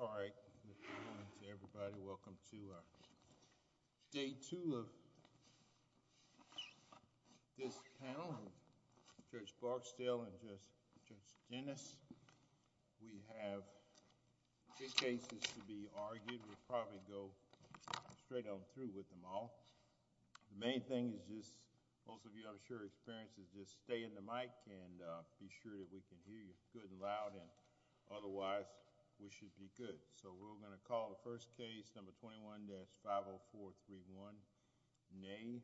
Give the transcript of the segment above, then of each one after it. All right, good morning to everybody, welcome to day two of this panel, with Judge Barksdale and Judge Dennis. We have two cases to be argued, we'll probably go straight on through with them all. The main thing is just, most of you I'm sure have experience, is just stay in the should be good. So we're going to call the first case, number 21-50431, Ney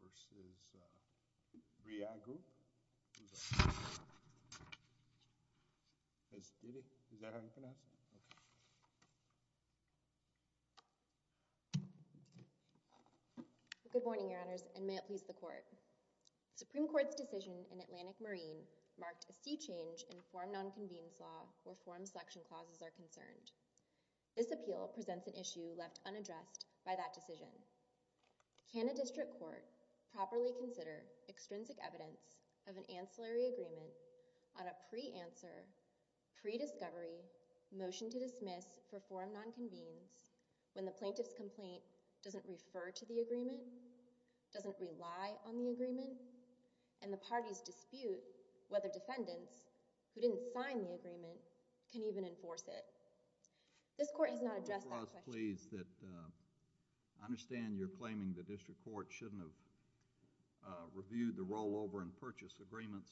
v. 3i Group. Is that how you pronounce it? Okay. Good morning, Your Honors, and may it please the Court. The Supreme Court's decision in Atlantic Marine marked a sea change in forum non-convenes law where forum selection clauses are concerned. This appeal presents an issue left unaddressed by that decision. Can a district court properly consider extrinsic evidence of an ancillary agreement on a pre-answer, pre-discovery motion to dismiss for forum non-convenes when the plaintiff's complaint doesn't refer to the agreement, doesn't rely on the agreement, and the parties dispute whether defendants who didn't sign the agreement can even enforce it? This Court has not addressed that question... Your Honor, I was pleased that I understand you're claiming the district court shouldn't have reviewed the rollover and purchase agreements.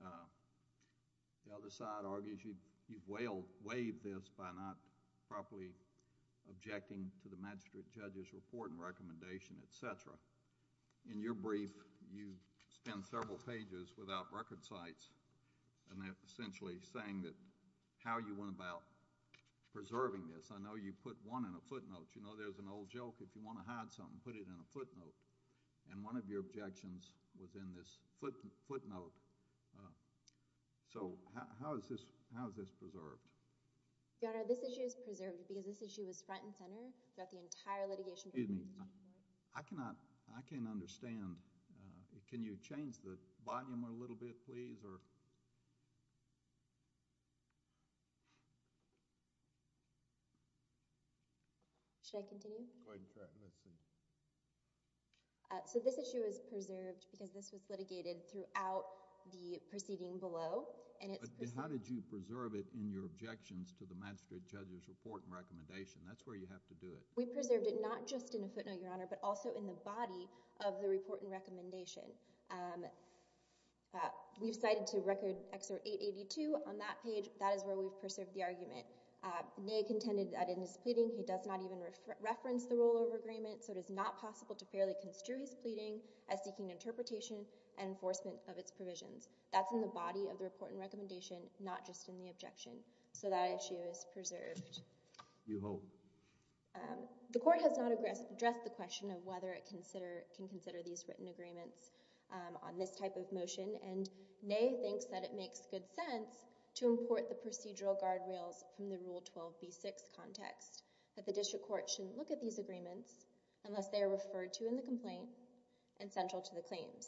The other side argues you've waived this by not properly objecting to the magistrate judge's report and recommendation, etc. In your brief, you spend several pages without record sites, and they're essentially saying that how you went about preserving this. I know you put one in a footnote. You know there's an old joke, if you want to hide something, put it in a footnote. And one of your objections was in this footnote. So how is this preserved? Your Honor, this issue is preserved because this issue was front and center throughout the entire litigation process. Excuse me. I cannot... I can't understand. Can you change the volume a little bit, please, or... Should I continue? Go ahead and cut. Let's see. So this issue is preserved because this was litigated throughout the proceeding below. And it's... But how did you preserve it in your objections to the magistrate judge's report and recommendation? That's where you have to do it. We preserved it not just in a footnote, Your Honor, but also in the body of the report and recommendation. We've cited to Record Excerpt 882 on that page. That is where we've preserved the argument. Ney contended that in his pleading, he does not even reference the rollover agreement, the report and recommendation? Yes, Your Honor. to fairly construe his pleading as seeking interpretation and enforcement of its provisions. That's in the body of the report and recommendation, not just in the objection. So that issue is preserved. You hope? The court has not addressed the question of whether it can consider these written agreements on this type of motion. And Ney thinks that it makes good sense to import the procedural guardrails from the Rule 12b-6 context, that the district court shouldn't look at these agreements unless It's a good point. And I think that's a good point. And I think that's a good point. and Central to the claims.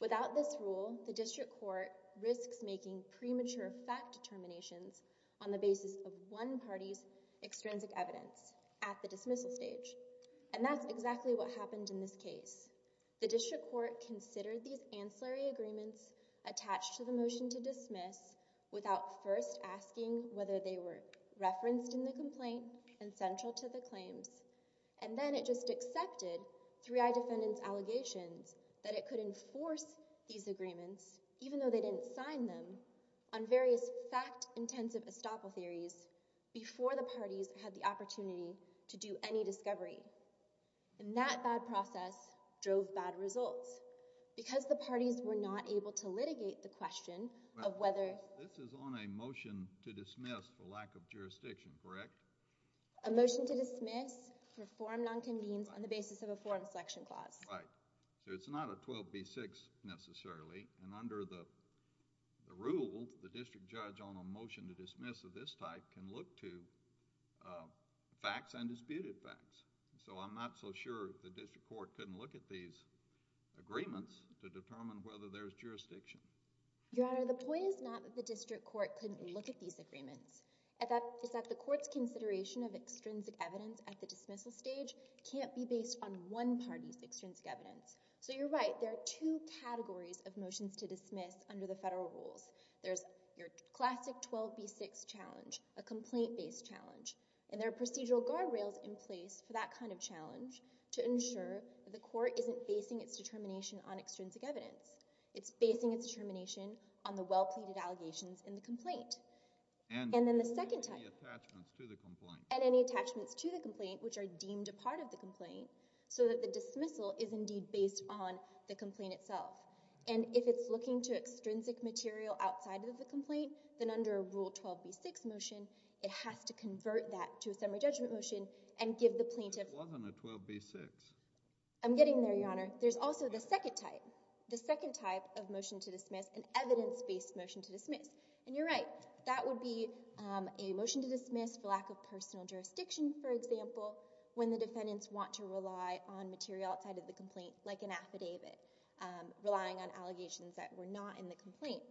Without this rule, the district court risks making premature fact determinations on the basis of one party's extrinsic evidence at the dismissal stage. And that's exactly what happened in this case. The district court considered these ancillary agreements attached to the motion to dismiss without first asking whether they were referenced in the complaint and Central to the claims. And then it just accepted 3I Defendant's allegations that it could enforce these agreements, even though they didn't sign them, on various fact-intensive estoppel theories before the parties had the opportunity to do any discovery. And that bad process drove bad results. Because the parties were not able to litigate the question of whether- This is on a motion to dismiss for lack of jurisdiction, correct? A motion to dismiss for forum non-convenes on the basis of a forum selection clause. Right. So it's not a 12B6 necessarily. And under the rule, the district judge on a motion to dismiss of this type can look to facts and disputed facts. So I'm not so sure the district court couldn't look at these agreements to determine whether there's jurisdiction. Your Honor, the point is not that the district court couldn't look at these agreements. It's that the court's consideration of extrinsic evidence at the dismissal stage can't be based on one party's extrinsic evidence. So you're right. There are two categories of motions to dismiss under the federal rules. There's your classic 12B6 challenge, a complaint-based challenge, and there are procedural guardrails in place for that kind of challenge to ensure that the court isn't basing its determination on extrinsic evidence. It's basing its determination on the well-pleaded allegations in the complaint. And then the second type. And any attachments to the complaint. And any attachments to the complaint, which are deemed a part of the complaint, so that the dismissal is indeed based on the complaint itself. And if it's looking to extrinsic material outside of the complaint, then under a Rule 12B6 motion, it has to convert that to a summary judgment motion and give the plaintiff— But it wasn't a 12B6. I'm getting there, Your Honor. There's also the second type, the second type of motion to dismiss, an evidence-based motion to dismiss. And you're right. That would be a motion to dismiss for lack of personal jurisdiction, for example, when the defendants want to rely on material outside of the complaint, like an affidavit, relying on allegations that were not in the complaint.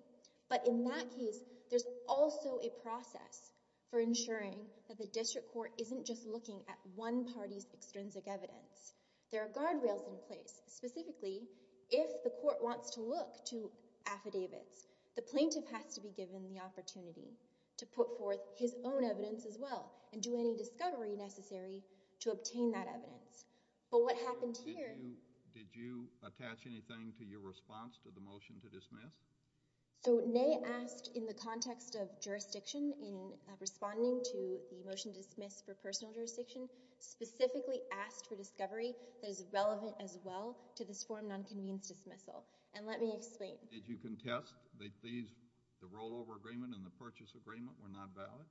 But in that case, there's also a process for ensuring that the district court isn't just looking at one party's extrinsic evidence. There are guardrails in place. Specifically, if the court wants to look to affidavits, the plaintiff has to be given the opportunity to put forth his own evidence as well and do any discovery necessary to obtain that evidence. But what happened here— Did you attach anything to your response to the motion to dismiss? So Ney asked in the context of jurisdiction, in responding to the motion to dismiss for lack of personal jurisdiction, did you attach anything to your response to this form of non-convened dismissal? And let me explain. Did you contest that these, the rollover agreement and the purchase agreement were not valid?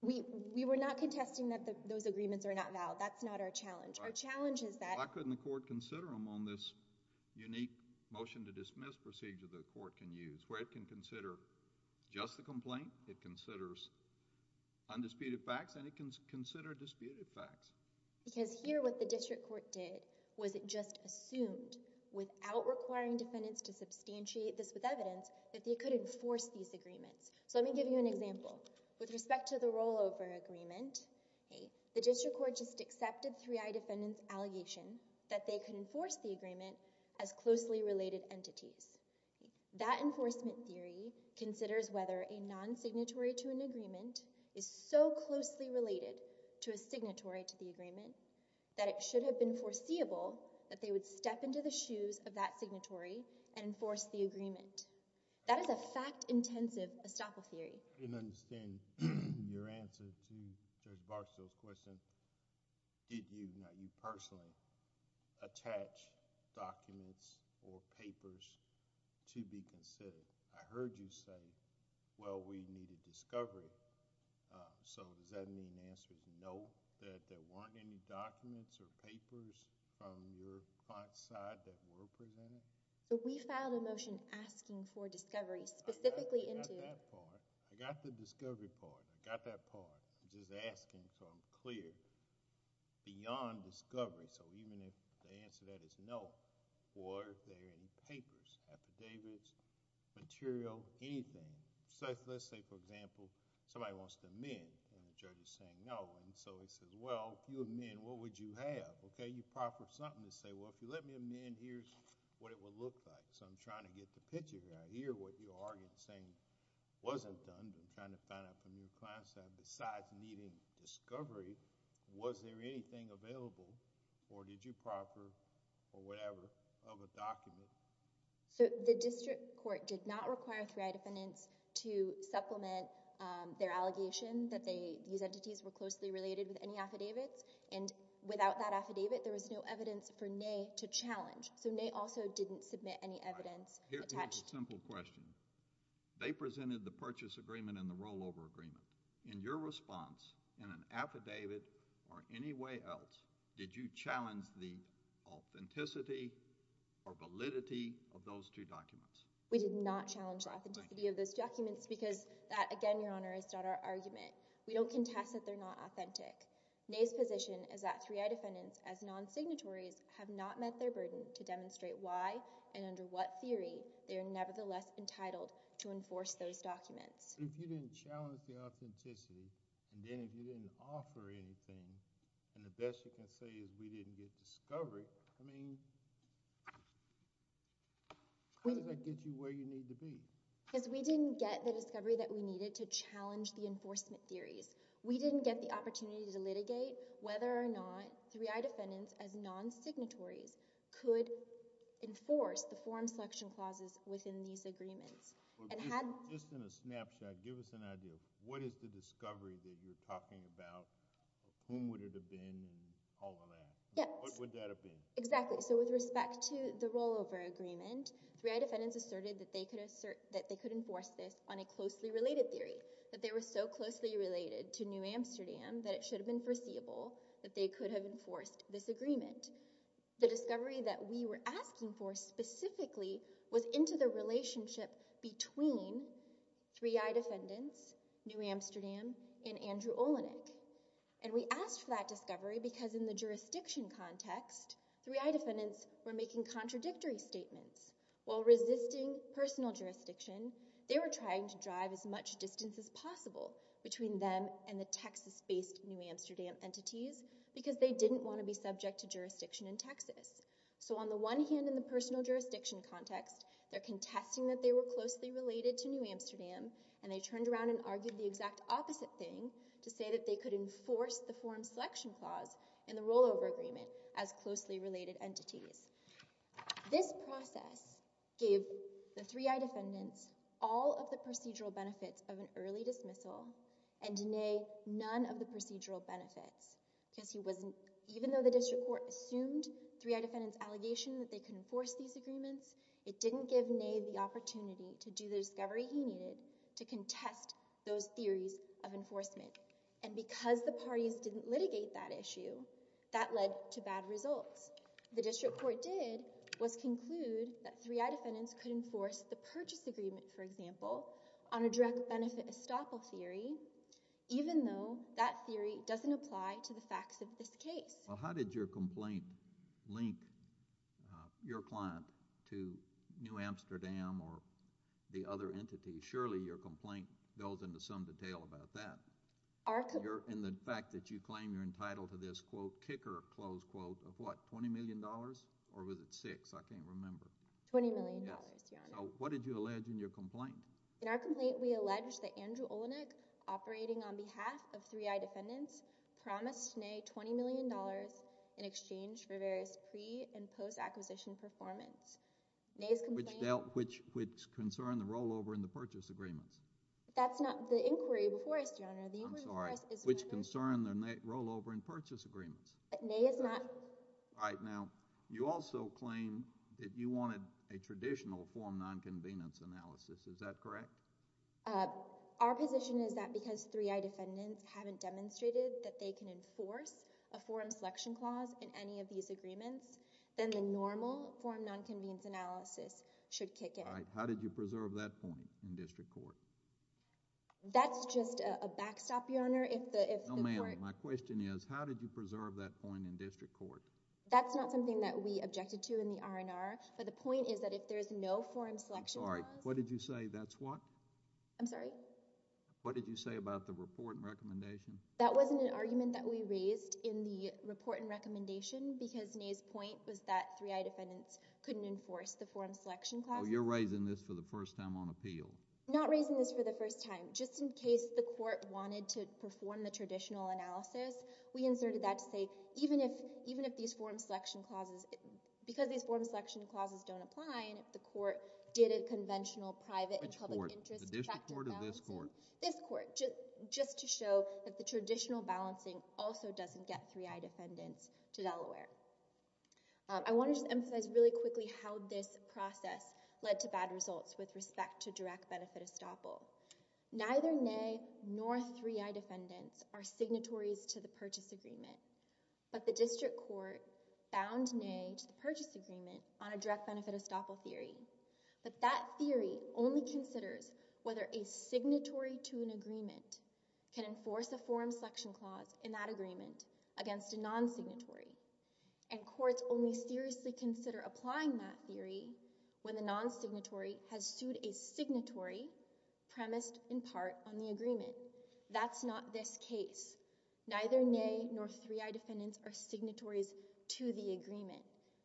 We were not contesting that those agreements are not valid. That's not our challenge. Our challenge is that— Why couldn't the court consider them on this unique motion to dismiss procedure the court can use, where it can consider just the complaint, it considers undisputed facts and it can consider disputed facts? Because here what the district court did was it just assumed, without requiring defendants to substantiate this with evidence, that they could enforce these agreements. So let me give you an example. With respect to the rollover agreement, the district court just accepted 3I defendant's allegation that they could enforce the agreement as closely related entities. That enforcement theory considers whether a non-signatory to an agreement is so closely related to a signatory to the agreement that it should have been foreseeable that they would step into the shoes of that signatory and enforce the agreement. That is a fact-intensive estoppel theory. I didn't understand your answer to Judge Barksdale's question. Did you, now you personally, attach documents or papers to be considered? I heard you say, well, we need a discovery. So does that mean the answer is no, that there weren't any documents or papers from your client's side that were presented? We filed a motion asking for discovery specifically into... I got that part. I got the discovery part. I got that part. I'm just asking so I'm clear. Beyond discovery, so even if the answer to that is no, were there any papers, affidavits, material, anything? Let's say, for example, somebody wants to amend and the judge is saying no. He says, well, if you amend, what would you have? You proffer something to say, well, if you let me amend, here's what it would look like. I'm trying to get the picture here. I hear what you're arguing saying wasn't done. I'm trying to find out from your client's side, besides needing discovery, was there anything available or did you proffer or whatever of a document? The district court did not require 3I defendants to supplement their allegation that these entities were closely related with any affidavits and without that affidavit, there was no evidence for NAY to challenge. NAY also didn't submit any evidence attached. Here's a simple question. They presented the purchase agreement and the rollover agreement. In your response, in an affidavit or any way else, did you challenge the authenticity or validity of those two documents? We did not challenge the authenticity of those documents because that, again, Your Honor, is not our argument. We don't contest that they're not authentic. NAY's position is that 3I defendants, as non-signatories, have not met their burden to demonstrate why and under what theory they are nevertheless entitled to enforce those documents. If you didn't challenge the authenticity and then if you didn't offer anything and the discovery, I mean, how does that get you where you need to be? Because we didn't get the discovery that we needed to challenge the enforcement theories. We didn't get the opportunity to litigate whether or not 3I defendants, as non-signatories, could enforce the form selection clauses within these agreements. Just in a snapshot, give us an idea. What is the discovery that you're talking about? Whom would it have been and all of that? What would that have been? Exactly. So with respect to the rollover agreement, 3I defendants asserted that they could enforce this on a closely related theory, that they were so closely related to New Amsterdam that it should have been foreseeable that they could have enforced this agreement. The discovery that we were asking for specifically was into the relationship between 3I defendants, New Amsterdam, and Andrew Olenek. And we asked for that discovery because in the jurisdiction context, 3I defendants were making contradictory statements. While resisting personal jurisdiction, they were trying to drive as much distance as possible between them and the Texas-based New Amsterdam entities because they didn't want to be subject to jurisdiction in Texas. So on the one hand, in the personal jurisdiction context, they're contesting that they were closely related to New Amsterdam, and they turned around and argued the exact opposite thing to say that they could enforce the forum selection clause in the rollover agreement as closely related entities. This process gave the 3I defendants all of the procedural benefits of an early dismissal and nay, none of the procedural benefits because even though the district court assumed 3I defendants' allegation that they could enforce these agreements, it didn't give nay the And because the parties didn't litigate that issue, that led to bad results. The district court did was conclude that 3I defendants could enforce the purchase agreement, for example, on a direct benefit estoppel theory even though that theory doesn't apply to the facts of this case. Well, how did your complaint link your client to New Amsterdam or the other entities? Surely your complaint goes into some detail about that. In the fact that you claim you're entitled to this quote, kicker, close quote of what, $20 million or was it six? I can't remember. $20 million, Your Honor. So what did you allege in your complaint? In our complaint, we allege that Andrew Olenek, operating on behalf of 3I defendants, promised nay $20 million in exchange for various pre- and post-acquisition performance. Which concern the rollover in the purchase agreements? That's not the inquiry before us, Your Honor. I'm sorry. Which concern the rollover in purchase agreements? Nay is not. Right. Now, you also claim that you wanted a traditional form non-convenience analysis. Is that correct? Our position is that because 3I defendants haven't demonstrated that they can enforce a forum selection clause in any of these agreements, then the normal form non-convenience analysis should kick in. Right. How did you preserve that point in district court? That's just a backstop, Your Honor, if the court... No, ma'am. My question is how did you preserve that point in district court? That's not something that we objected to in the R&R, but the point is that if there's no forum selection clause... I'm sorry. What did you say? That's what? I'm sorry? What did you say about the report and recommendation? That wasn't an argument that we raised in the report and recommendation because Nay's point was that 3I defendants couldn't enforce the forum selection clause. Oh, you're raising this for the first time on appeal. Not raising this for the first time. Just in case the court wanted to perform the traditional analysis, we inserted that to say even if these forum selection clauses... because these forum selection clauses don't apply and if the court did a conventional private and public interest... Which court? The district court or this court? This court, just to show that the traditional balancing also doesn't get 3I defendants to Delaware. I want to just emphasize really quickly how this process led to bad results with respect to direct benefit estoppel. Neither Nay nor 3I defendants are signatories to the purchase agreement, but the district court bound Nay to the purchase agreement on a direct benefit estoppel theory. But that theory only considers whether a signatory to an agreement can enforce a forum selection clause in that agreement against a non-signatory. And courts only seriously consider applying that theory when the non-signatory has sued a signatory premised in part on the agreement. That's not this case. Neither Nay nor 3I defendants are signatories to the agreement.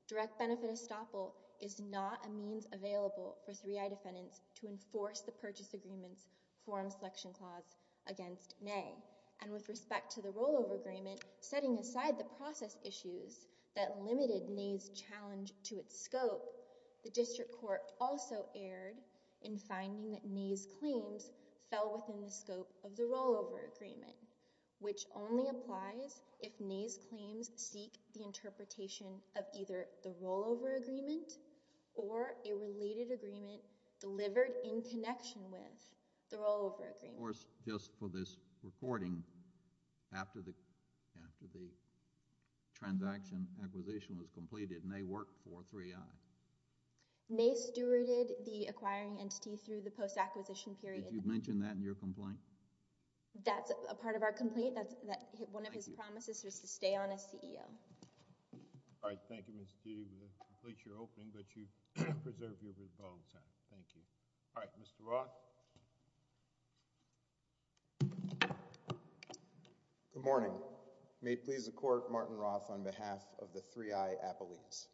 Direct benefit estoppel is not a means available for 3I defendants to enforce the purchase agreement's forum selection clause against Nay. And with respect to the rollover agreement, setting aside the process issues that limited Nay's challenge to its scope, the district court also erred in finding that Nay's claims fell within the scope of the rollover agreement, which only applies if Nay's claims seek the benefit of either the rollover agreement or a related agreement delivered in connection with the rollover agreement. Of course, just for this recording, after the transaction acquisition was completed, Nay worked for 3I. Nay stewarded the acquiring entity through the post-acquisition period. Did you mention that in your complaint? That's a part of our complaint. One of his promises was to stay on as CEO. All right. Thank you, Mr. D. That completes your opening, but you can preserve your rebuttal time. Thank you. All right. Mr. Roth? Good morning. May it please the court, Martin Roth on behalf of the 3I appellees.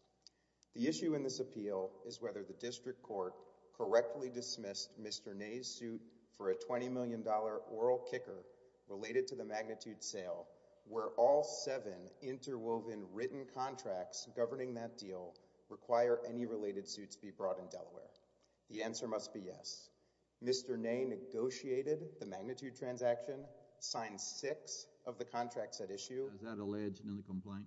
The issue in this appeal is whether the district court correctly dismissed Mr. Nay's suit for a $20 million oral kicker related to the magnitude sale, where all seven interwoven written contracts governing that deal require any related suits be brought in Delaware. The answer must be yes. Mr. Nay negotiated the magnitude transaction, signed six of the contracts at issue. Is that alleged in the complaint?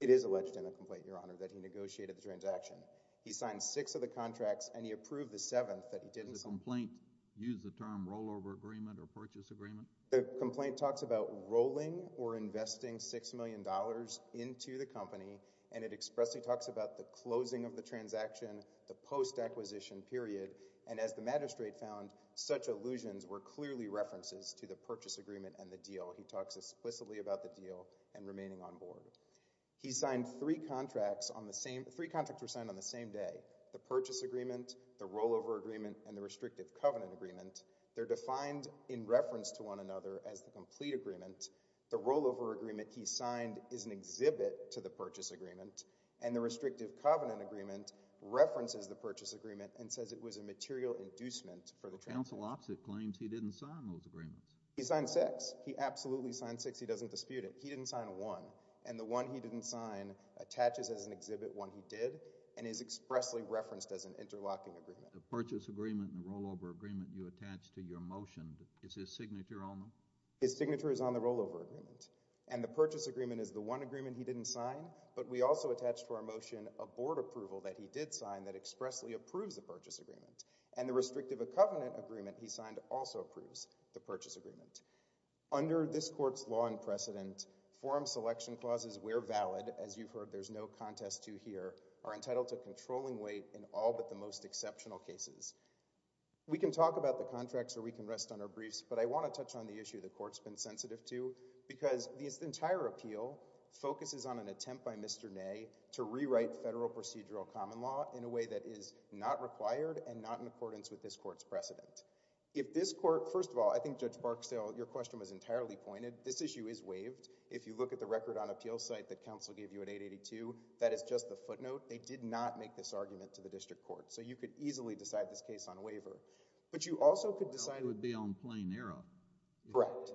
It is alleged in the complaint, Your Honor, that he negotiated the transaction. He signed six of the contracts, and he approved the seventh that he didn't sign. Does the complaint use the term rollover agreement or purchase agreement? The complaint talks about rolling or investing $6 million into the company, and it expressly talks about the closing of the transaction, the post-acquisition period. And as the magistrate found, such allusions were clearly references to the purchase agreement and the deal. He talks explicitly about the deal and remaining on board. He signed three contracts on the same—three contracts were signed on the same day, the restrictive covenant agreement. They're defined in reference to one another as the complete agreement. The rollover agreement he signed is an exhibit to the purchase agreement, and the restrictive covenant agreement references the purchase agreement and says it was a material inducement for the transaction. The counsel opposite claims he didn't sign those agreements. He signed six. He absolutely signed six. He doesn't dispute it. He didn't sign one. And the one he didn't sign attaches as an exhibit, one he did, and is expressly referenced as an interlocking agreement. The purchase agreement and the rollover agreement you attached to your motion, is his signature on them? His signature is on the rollover agreement. And the purchase agreement is the one agreement he didn't sign, but we also attached to our motion a board approval that he did sign that expressly approves the purchase agreement. And the restrictive covenant agreement he signed also approves the purchase agreement. Under this Court's law and precedent, forum selection clauses where valid, as you've heard there's no contest to here, are entitled to controlling weight in all but the most exceptional cases. We can talk about the contracts or we can rest on our briefs, but I want to touch on the issue the Court's been sensitive to because this entire appeal focuses on an attempt by Mr. Ney to rewrite federal procedural common law in a way that is not required and not in accordance with this Court's precedent. If this Court, first of all, I think Judge Barksdale, your question was entirely pointed. This issue is waived. If you look at the record on appeal site that counsel gave you at 882, that is just the footnote. They did not make this argument to the district court. So you could easily decide this case on waiver. But you also could decide— It would be on plain error. Correct.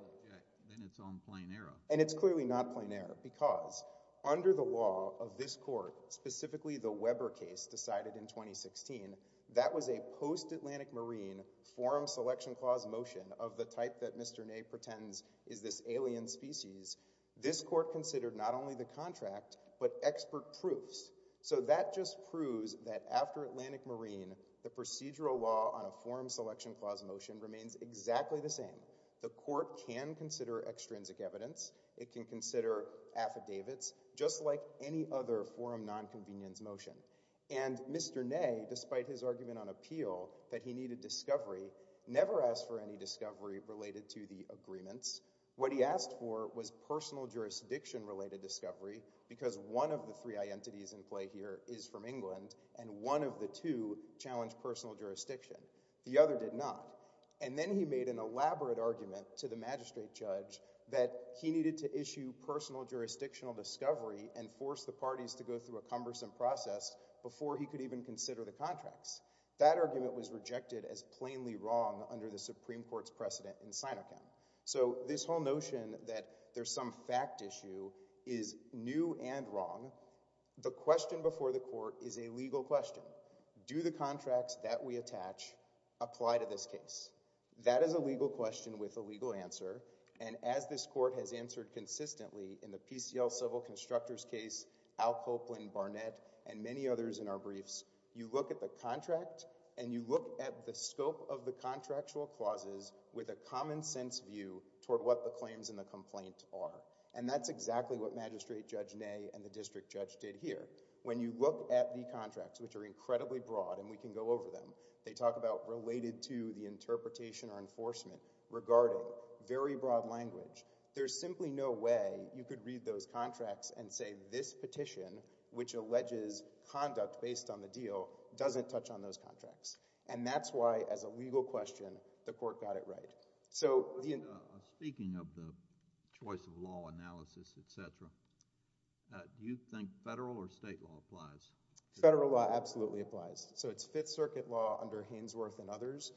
Then it's on plain error. And it's clearly not plain error because under the law of this Court, specifically the Weber case decided in 2016, that was a post-Atlantic Marine forum selection clause motion of the type that Mr. Ney pretends is this alien species. This Court considered not only the contract, but expert proofs. So that just proves that after Atlantic Marine, the procedural law on a forum selection clause motion remains exactly the same. The Court can consider extrinsic evidence. It can consider affidavits, just like any other forum nonconvenience motion. And Mr. Ney, despite his argument on appeal that he needed discovery, never asked for any discovery related to the agreements. What he asked for was personal jurisdiction-related discovery because one of the three identities in play here is from England, and one of the two challenged personal jurisdiction. The other did not. And then he made an elaborate argument to the magistrate judge that he needed to issue personal jurisdictional discovery and force the parties to go through a cumbersome process before he could even consider the contracts. That argument was rejected as plainly wrong under the Supreme Court's precedent in Sinochem. So this whole notion that there's some fact issue is new and wrong. The question before the Court is a legal question. Do the contracts that we attach apply to this case? That is a legal question with a legal answer. And as this Court has answered consistently in the PCL civil constructors case, Al Copeland, Barnett, and many others in our briefs, you look at the contract and you look at the scope of the contractual clauses with a common sense view toward what the claims in the complaint are. And that's exactly what Magistrate Judge Ney and the District Judge did here. When you look at the contracts, which are incredibly broad and we can go over them, they talk about related to the interpretation or enforcement regarding very broad language. There's simply no way you could read those contracts and say this petition, which alleges conduct based on the deal, doesn't touch on those contracts. And that's why, as a legal question, the Court got it right. Speaking of the choice of law analysis, etc., do you think federal or state law applies? Federal law absolutely applies. So it's Fifth Circuit law under Hainsworth and others.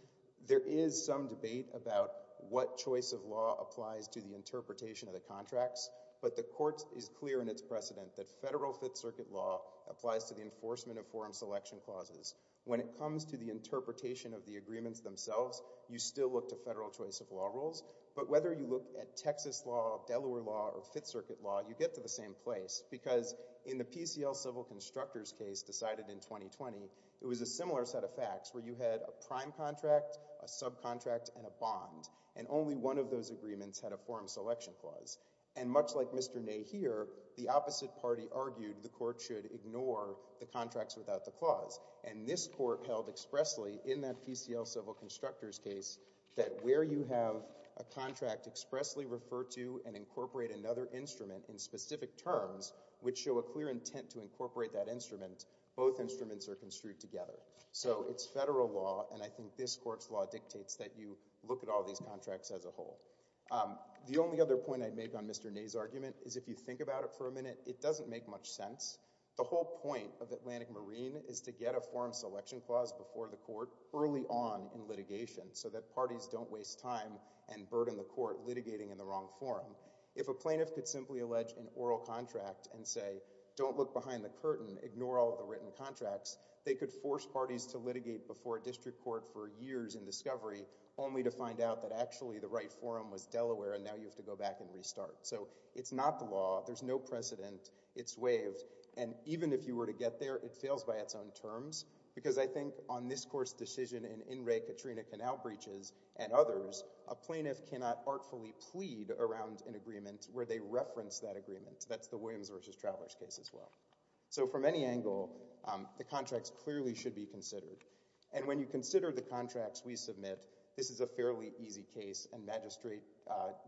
There is some debate about what choice of law applies to the interpretation of the contracts, but the Court is clear in its precedent that federal Fifth Circuit law applies to the enforcement of forum selection clauses. When it comes to the interpretation of the agreements themselves, you still look to federal choice of law rules. But whether you look at Texas law, Delaware law, or Fifth Circuit law, you get to the same place. Because in the PCL civil constructors case decided in 2020, it was a similar set of facts where you had a prime contract, a subcontract, and a bond. And only one of those agreements had a forum selection clause. And much like Mr. Ney here, the opposite party argued the Court should ignore the contracts without the clause, and this Court held expressly in that PCL civil constructors case that where you have a contract expressly referred to and incorporate another instrument in specific terms which show a clear intent to incorporate that instrument, both instruments are construed together. So it's federal law, and I think this Court's law dictates that you look at all these contracts as a whole. The only other point I'd make on Mr. Ney's argument is if you think about it for a minute, it doesn't make much sense. The whole point of Atlantic Marine is to get a forum selection clause before the Court early on in litigation so that parties don't waste time and burden the Court litigating in the wrong forum. If a plaintiff could simply allege an oral contract and say, don't look behind the curtain, ignore all the written contracts, they could force parties to litigate before a district court for years in discovery only to find out that actually the right forum was Delaware and now you have to go back and restart. So it's not the law. There's no precedent. It's waived. And even if you were to get there, it fails by its own terms because I think on this Court's decision in In Re Katrina Canal Breaches and others, a plaintiff cannot artfully plead around an agreement where they reference that agreement. That's the Williams v. Trowler's case as well. So from any angle, the contracts clearly should be considered. And when you consider the contracts we submit, this is a fairly easy case, and Magistrate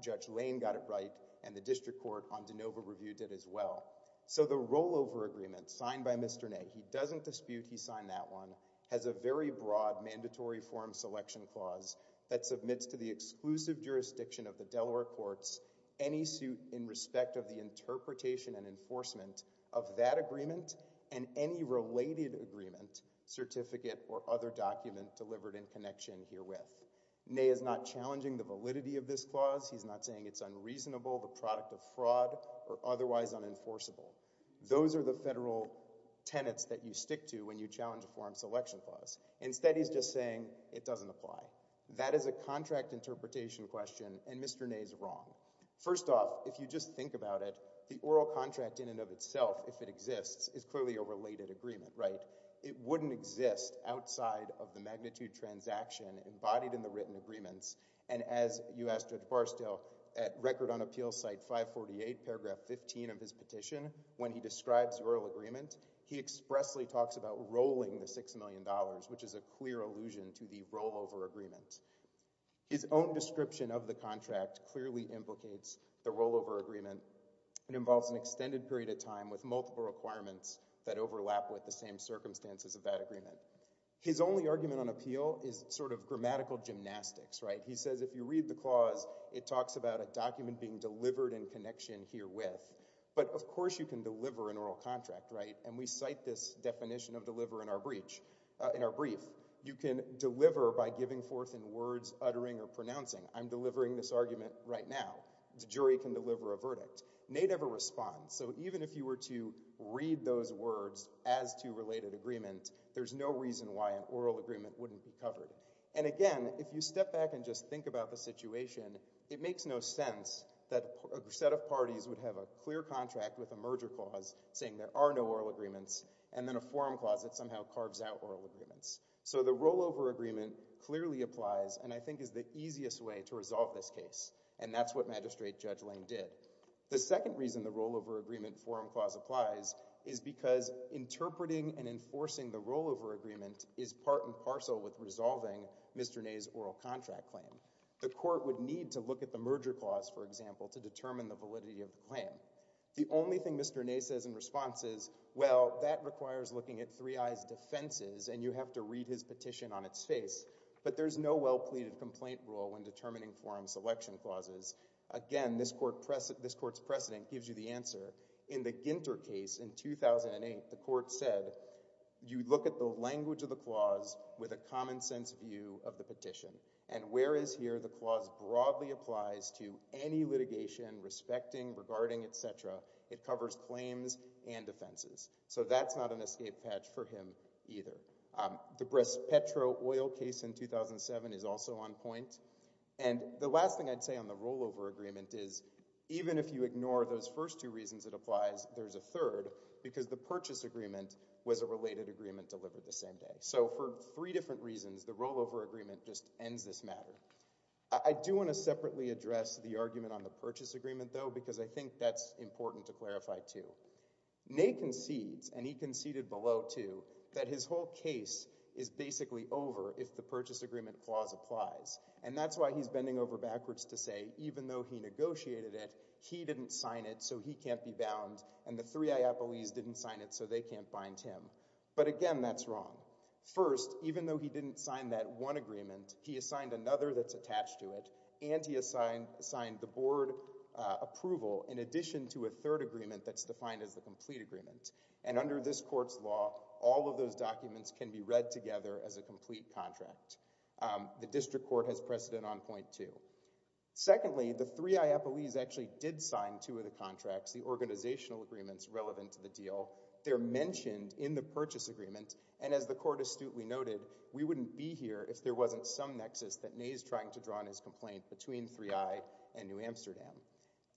Judge Lane got it right and the district court on DeNova Review did as well. So the rollover agreement signed by Mr. Ney, he doesn't dispute he signed that one, has a very broad mandatory forum selection clause that submits to the exclusive jurisdiction of the Delaware courts any suit in respect of the interpretation and enforcement of that agreement and any related agreement, certificate, or other document delivered in connection herewith. Ney is not challenging the validity of this clause. He's not saying it's unreasonable, the product of fraud, or otherwise unenforceable. Those are the federal tenets that you stick to when you challenge a forum selection clause. Instead, he's just saying it doesn't apply. That is a contract interpretation question, and Mr. Ney's wrong. First off, if you just think about it, the oral contract in and of itself, if it exists, is clearly a related agreement, right? It wouldn't exist outside of the magnitude transaction embodied in the written agreements, and as you asked Judge Barstow, at Record on Appeals, site 548, paragraph 15 of his petition, when he describes the oral agreement, he expressly talks about rolling the $6 million, which is a clear allusion to the rollover agreement. His own description of the contract clearly implicates the rollover agreement. It involves an extended period of time with multiple requirements that overlap with the same circumstances of that agreement. His only argument on appeal is sort of grammatical gymnastics, right? He says if you read the clause, it talks about a document being delivered in connection herewith, but of course you can deliver an oral contract, right? And we cite this definition of deliver in our brief. You can deliver by giving forth in words, uttering, or pronouncing. I'm delivering this argument right now. The jury can deliver a verdict. They never respond, so even if you were to read those words as to related agreement, there's no reason why an oral agreement wouldn't be covered. And again, if you step back and just think about the situation, it makes no sense that a set of parties would have a clear contract with a merger clause saying there are no oral agreements and then a forum clause that somehow carves out oral agreements. So the rollover agreement clearly applies and I think is the easiest way to resolve this case, and that's what Magistrate Judge Lang did. The second reason the rollover agreement forum clause applies is because interpreting and enforcing the rollover agreement is part and parcel with resolving Mr. Ney's oral contract claim. The court would need to look at the merger clause, for example, to determine the validity of the claim. The only thing Mr. Ney says in response is, well, that requires looking at three eyes' defenses and you have to read his petition on its face, but there's no well-pleaded complaint rule when determining forum selection clauses. Again, this court's precedent gives you the answer. In the Ginter case in 2008, the court said, you look at the language of the clause with a common sense view of the petition. And whereas here the clause broadly applies to any litigation, respecting, regarding, et cetera, it covers claims and defenses. So that's not an escape patch for him either. The Braspetro oil case in 2007 is also on point. And the last thing I'd say on the rollover agreement is, even if you ignore those first two reasons it applies, there's a third, because the purchase agreement was a related agreement delivered the same day. So for three different reasons, the rollover agreement just ends this matter. I do want to separately address the argument on the purchase agreement, though, because I think that's important to clarify, too. Ney concedes, and he conceded below, too, that his whole case is basically over if the purchase agreement clause applies. And that's why he's bending over backwards to say, even though he negotiated it, he didn't sign it so he can't be bound, and the three IAPLEs didn't sign it so they can't bind him. But again, that's wrong. First, even though he didn't sign that one agreement, he assigned another that's attached to it, and he assigned the board approval in addition to a third agreement that's defined as the complete agreement. And under this court's law, all of those documents can be read together as a complete contract. The district court has precedent on point two. Secondly, the three IAPLEs actually did sign two of the contracts, the organizational agreements relevant to the deal. They're mentioned in the purchase agreement, and as the court astutely noted, we wouldn't be here if there wasn't some nexus that Ney is trying to draw on his complaint between three I and New Amsterdam.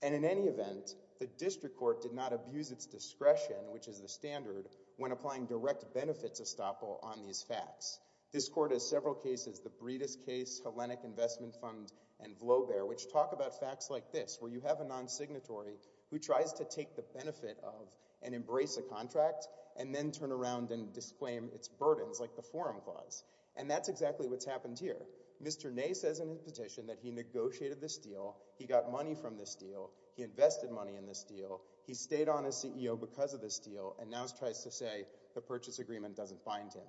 And in any event, the district court did not abuse its discretion, which is the standard, when applying direct benefits estoppel on these facts. This court has several cases, the Breedis case, Hellenic Investment Fund, and Vloebeer, which talk about facts like this, where you have a non-signatory who tries to take the benefit of and embrace a contract and then turn around and disclaim its burdens like the Forum Clause. And that's exactly what's happened here. Mr. Ney says in his petition that he negotiated this deal, he got money from this deal, he invested money in this deal, he stayed on as CEO because of this deal, and now tries to say the purchase agreement doesn't bind him.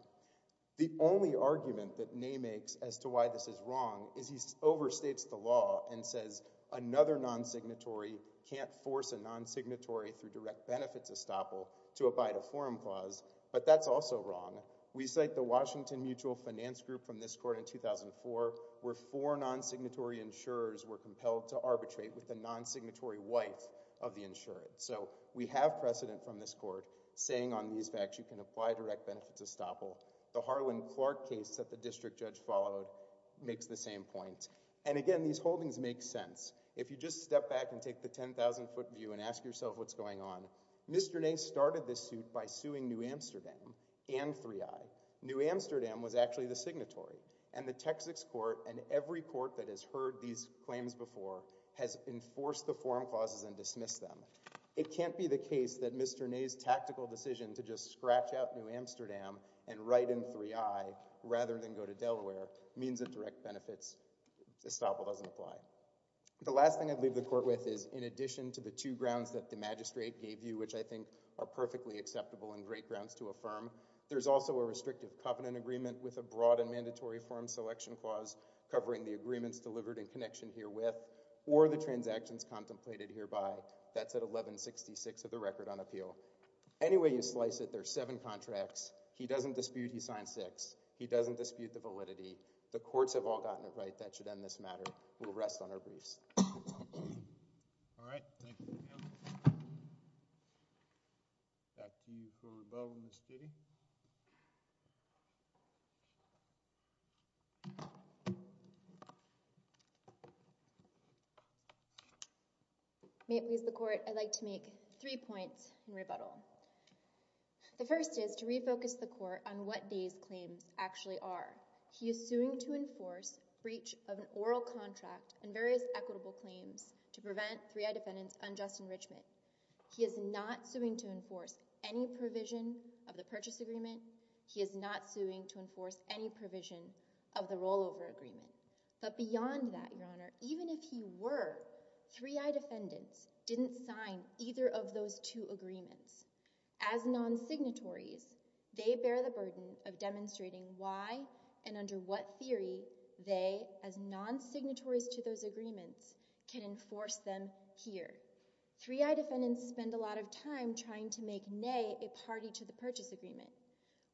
The only argument that Ney makes as to why this is wrong is he overstates the law and says another non-signatory can't force a non-signatory through direct benefits estoppel to abide a Forum Clause, but that's also wrong. We cite the Washington Mutual Finance Group from this court in 2004, where four non-signatory insurers were compelled to arbitrate with the non-signatory wife of the insured. So we have precedent from this court saying on these facts you can apply direct benefits estoppel. The Harlan Clark case that the district judge followed makes the same point. And again, these holdings make sense. If you just step back and take the 10,000-foot view and ask yourself what's going on, Mr. Ney started this suit by suing New Amsterdam and 3i. New Amsterdam was actually the signatory, and the Texas court and every court that has heard these claims before has enforced the Forum Clauses and dismissed them. It can't be the case that Mr. Ney's tactical decision to just scratch out New Amsterdam and write in 3i rather than go to Delaware means that direct benefits estoppel doesn't apply. The last thing I'd leave the court with is in addition to the two grounds that the magistrate gave you, which I think are perfectly acceptable and great grounds to affirm, there's also a restrictive covenant agreement with a broad and mandatory Forum Selection Clause covering the agreements delivered in connection herewith or the transactions contemplated hereby. That's at 1166 of the record on appeal. Any way you slice it, there are seven contracts. He doesn't dispute he signed six. He doesn't dispute the validity. The courts have all gotten it right. That should end this matter. We'll rest on our briefs. All right, thank you. Back to you for rebuttal, Ms. Giddey. May it please the court, I'd like to make three points in rebuttal. The first is to refocus the court on what these claims actually are. He is suing to enforce breach of an oral contract and various equitable claims to prevent 3I defendants' unjust enrichment. He is not suing to enforce any provision of the purchase agreement. He is not suing to enforce any provision of the rollover agreement. But beyond that, Your Honor, even if he were, 3I defendants didn't sign either of those two agreements. As non-signatories, they bear the burden of demonstrating why and under what theory they, as non-signatories to those agreements, can enforce them here. 3I defendants spend a lot of time trying to make Ney a party to the purchase agreement.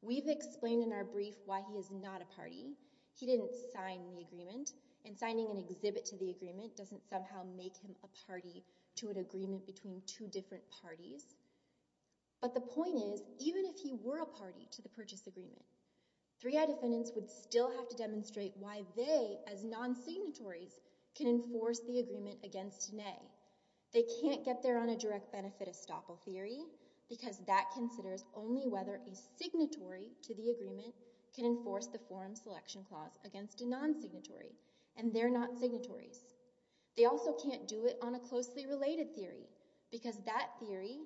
We've explained in our brief why he is not a party. He didn't sign the agreement, and signing an exhibit to the agreement doesn't somehow make him a party to an agreement between two different parties. But the point is, even if he were a party to the purchase agreement, 3I defendants would still have to demonstrate why they, as non-signatories, can enforce the agreement against Ney. They can't get there on a direct benefit estoppel theory because that considers only whether a signatory to the agreement can enforce the forum selection clause against a non-signatory, and they're not signatories. They also can't do it on a closely related theory because that theory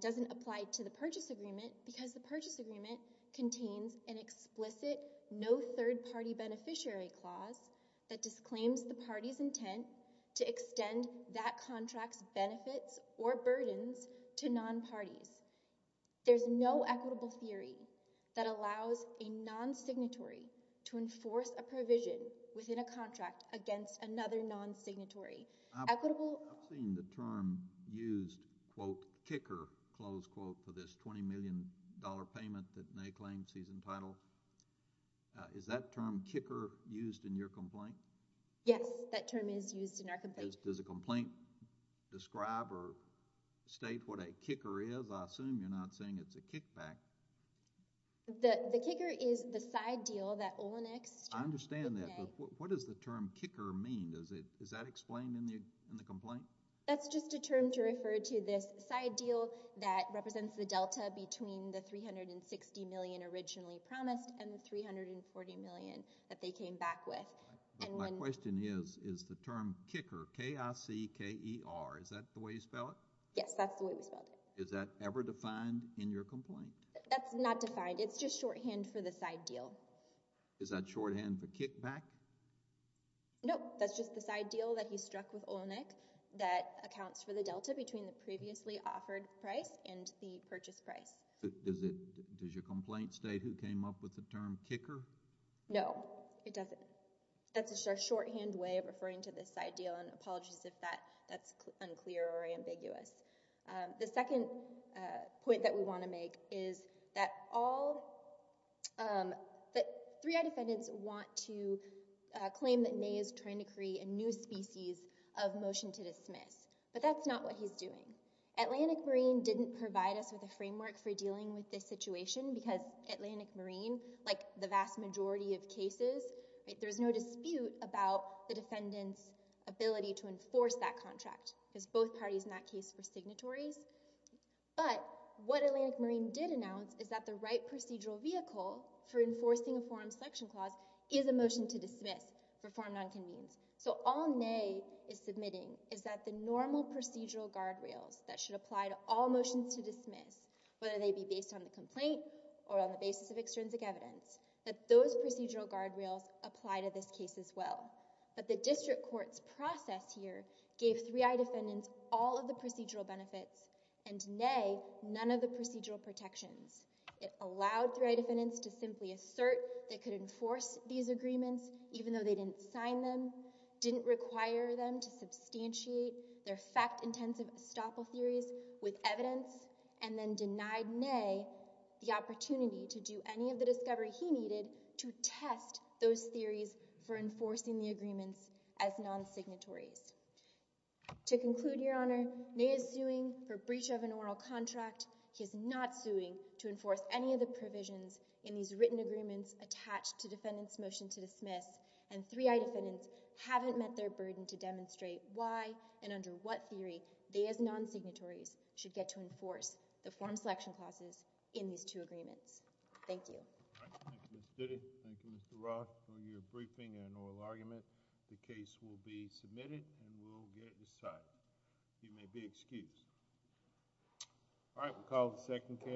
doesn't apply to the purchase agreement because the purchase agreement contains an explicit no third party beneficiary clause that disclaims the party's intent to extend that contract's benefits or burdens to non-parties. There's no equitable theory that allows a non-signatory to enforce a provision within a contract against another non-signatory. I've seen the term used, quote, kicker, close quote, for this $20 million payment that Ney claims he's entitled. Is that term kicker used in your complaint? Yes, that term is used in our complaint. Does the complaint describe or state what a kicker is? I assume you're not saying it's a kickback. The kicker is the side deal that Oleneks took with Ney. I understand that, but what does the term kicker mean? Is that explained in the complaint? That's just a term to refer to this side deal that represents the delta between the $360 million originally promised and the $340 million that they came back with. My question is, is the term kicker, K-I-C-K-E-R, is that the way you spell it? Yes, that's the way we spell it. Is that ever defined in your complaint? That's not defined. It's just shorthand for the side deal. Is that shorthand for kickback? No, that's just the side deal that he struck with Olenek that accounts for the delta between the previously offered price and the purchase price. Does your complaint state who came up with the term kicker? No, it doesn't. That's a shorthand way of referring to this side deal, and apologies if that's unclear or ambiguous. The second point that we want to make is that all... 3-I defendants want to claim that Ney is trying to create a new species of motion to dismiss, but that's not what he's doing. Atlantic Marine didn't provide us with a framework for dealing with this situation because Atlantic Marine, like the vast majority of cases, there's no dispute about the defendant's ability to enforce that contract because both parties in that case were signatories. But what Atlantic Marine did announce is that the right procedural vehicle for enforcing a forum selection clause is a motion to dismiss for forum non-convenes. So all Ney is submitting is that the normal procedural guardrails that should apply to all motions to dismiss, whether they be based on the complaint or on the basis of extrinsic evidence, that those procedural guardrails apply to this case as well. But the district court's process here gave 3-I defendants all of the procedural benefits and Ney none of the procedural protections. It allowed 3-I defendants to simply assert they could enforce these agreements even though they didn't sign them, didn't require them to substantiate their fact-intensive estoppel theories with evidence, and then denied Ney the opportunity to do any of the discovery he needed to test those theories for enforcing the agreements as non-signatories. To conclude, Your Honor, Ney is suing for breach of an oral contract. He is not suing to enforce any of the provisions in these written agreements attached to defendant's motion to dismiss, and 3-I defendants haven't met their burden to demonstrate why and under what theory they as non-signatories should get to enforce the forum selection clauses in these two agreements. Thank you. Thank you, Ms. Diddy. Thank you, Mr. Roth, for your briefing and oral argument. The case will be submitted and we'll get it decided. You may be excused. All right, we'll call the second case.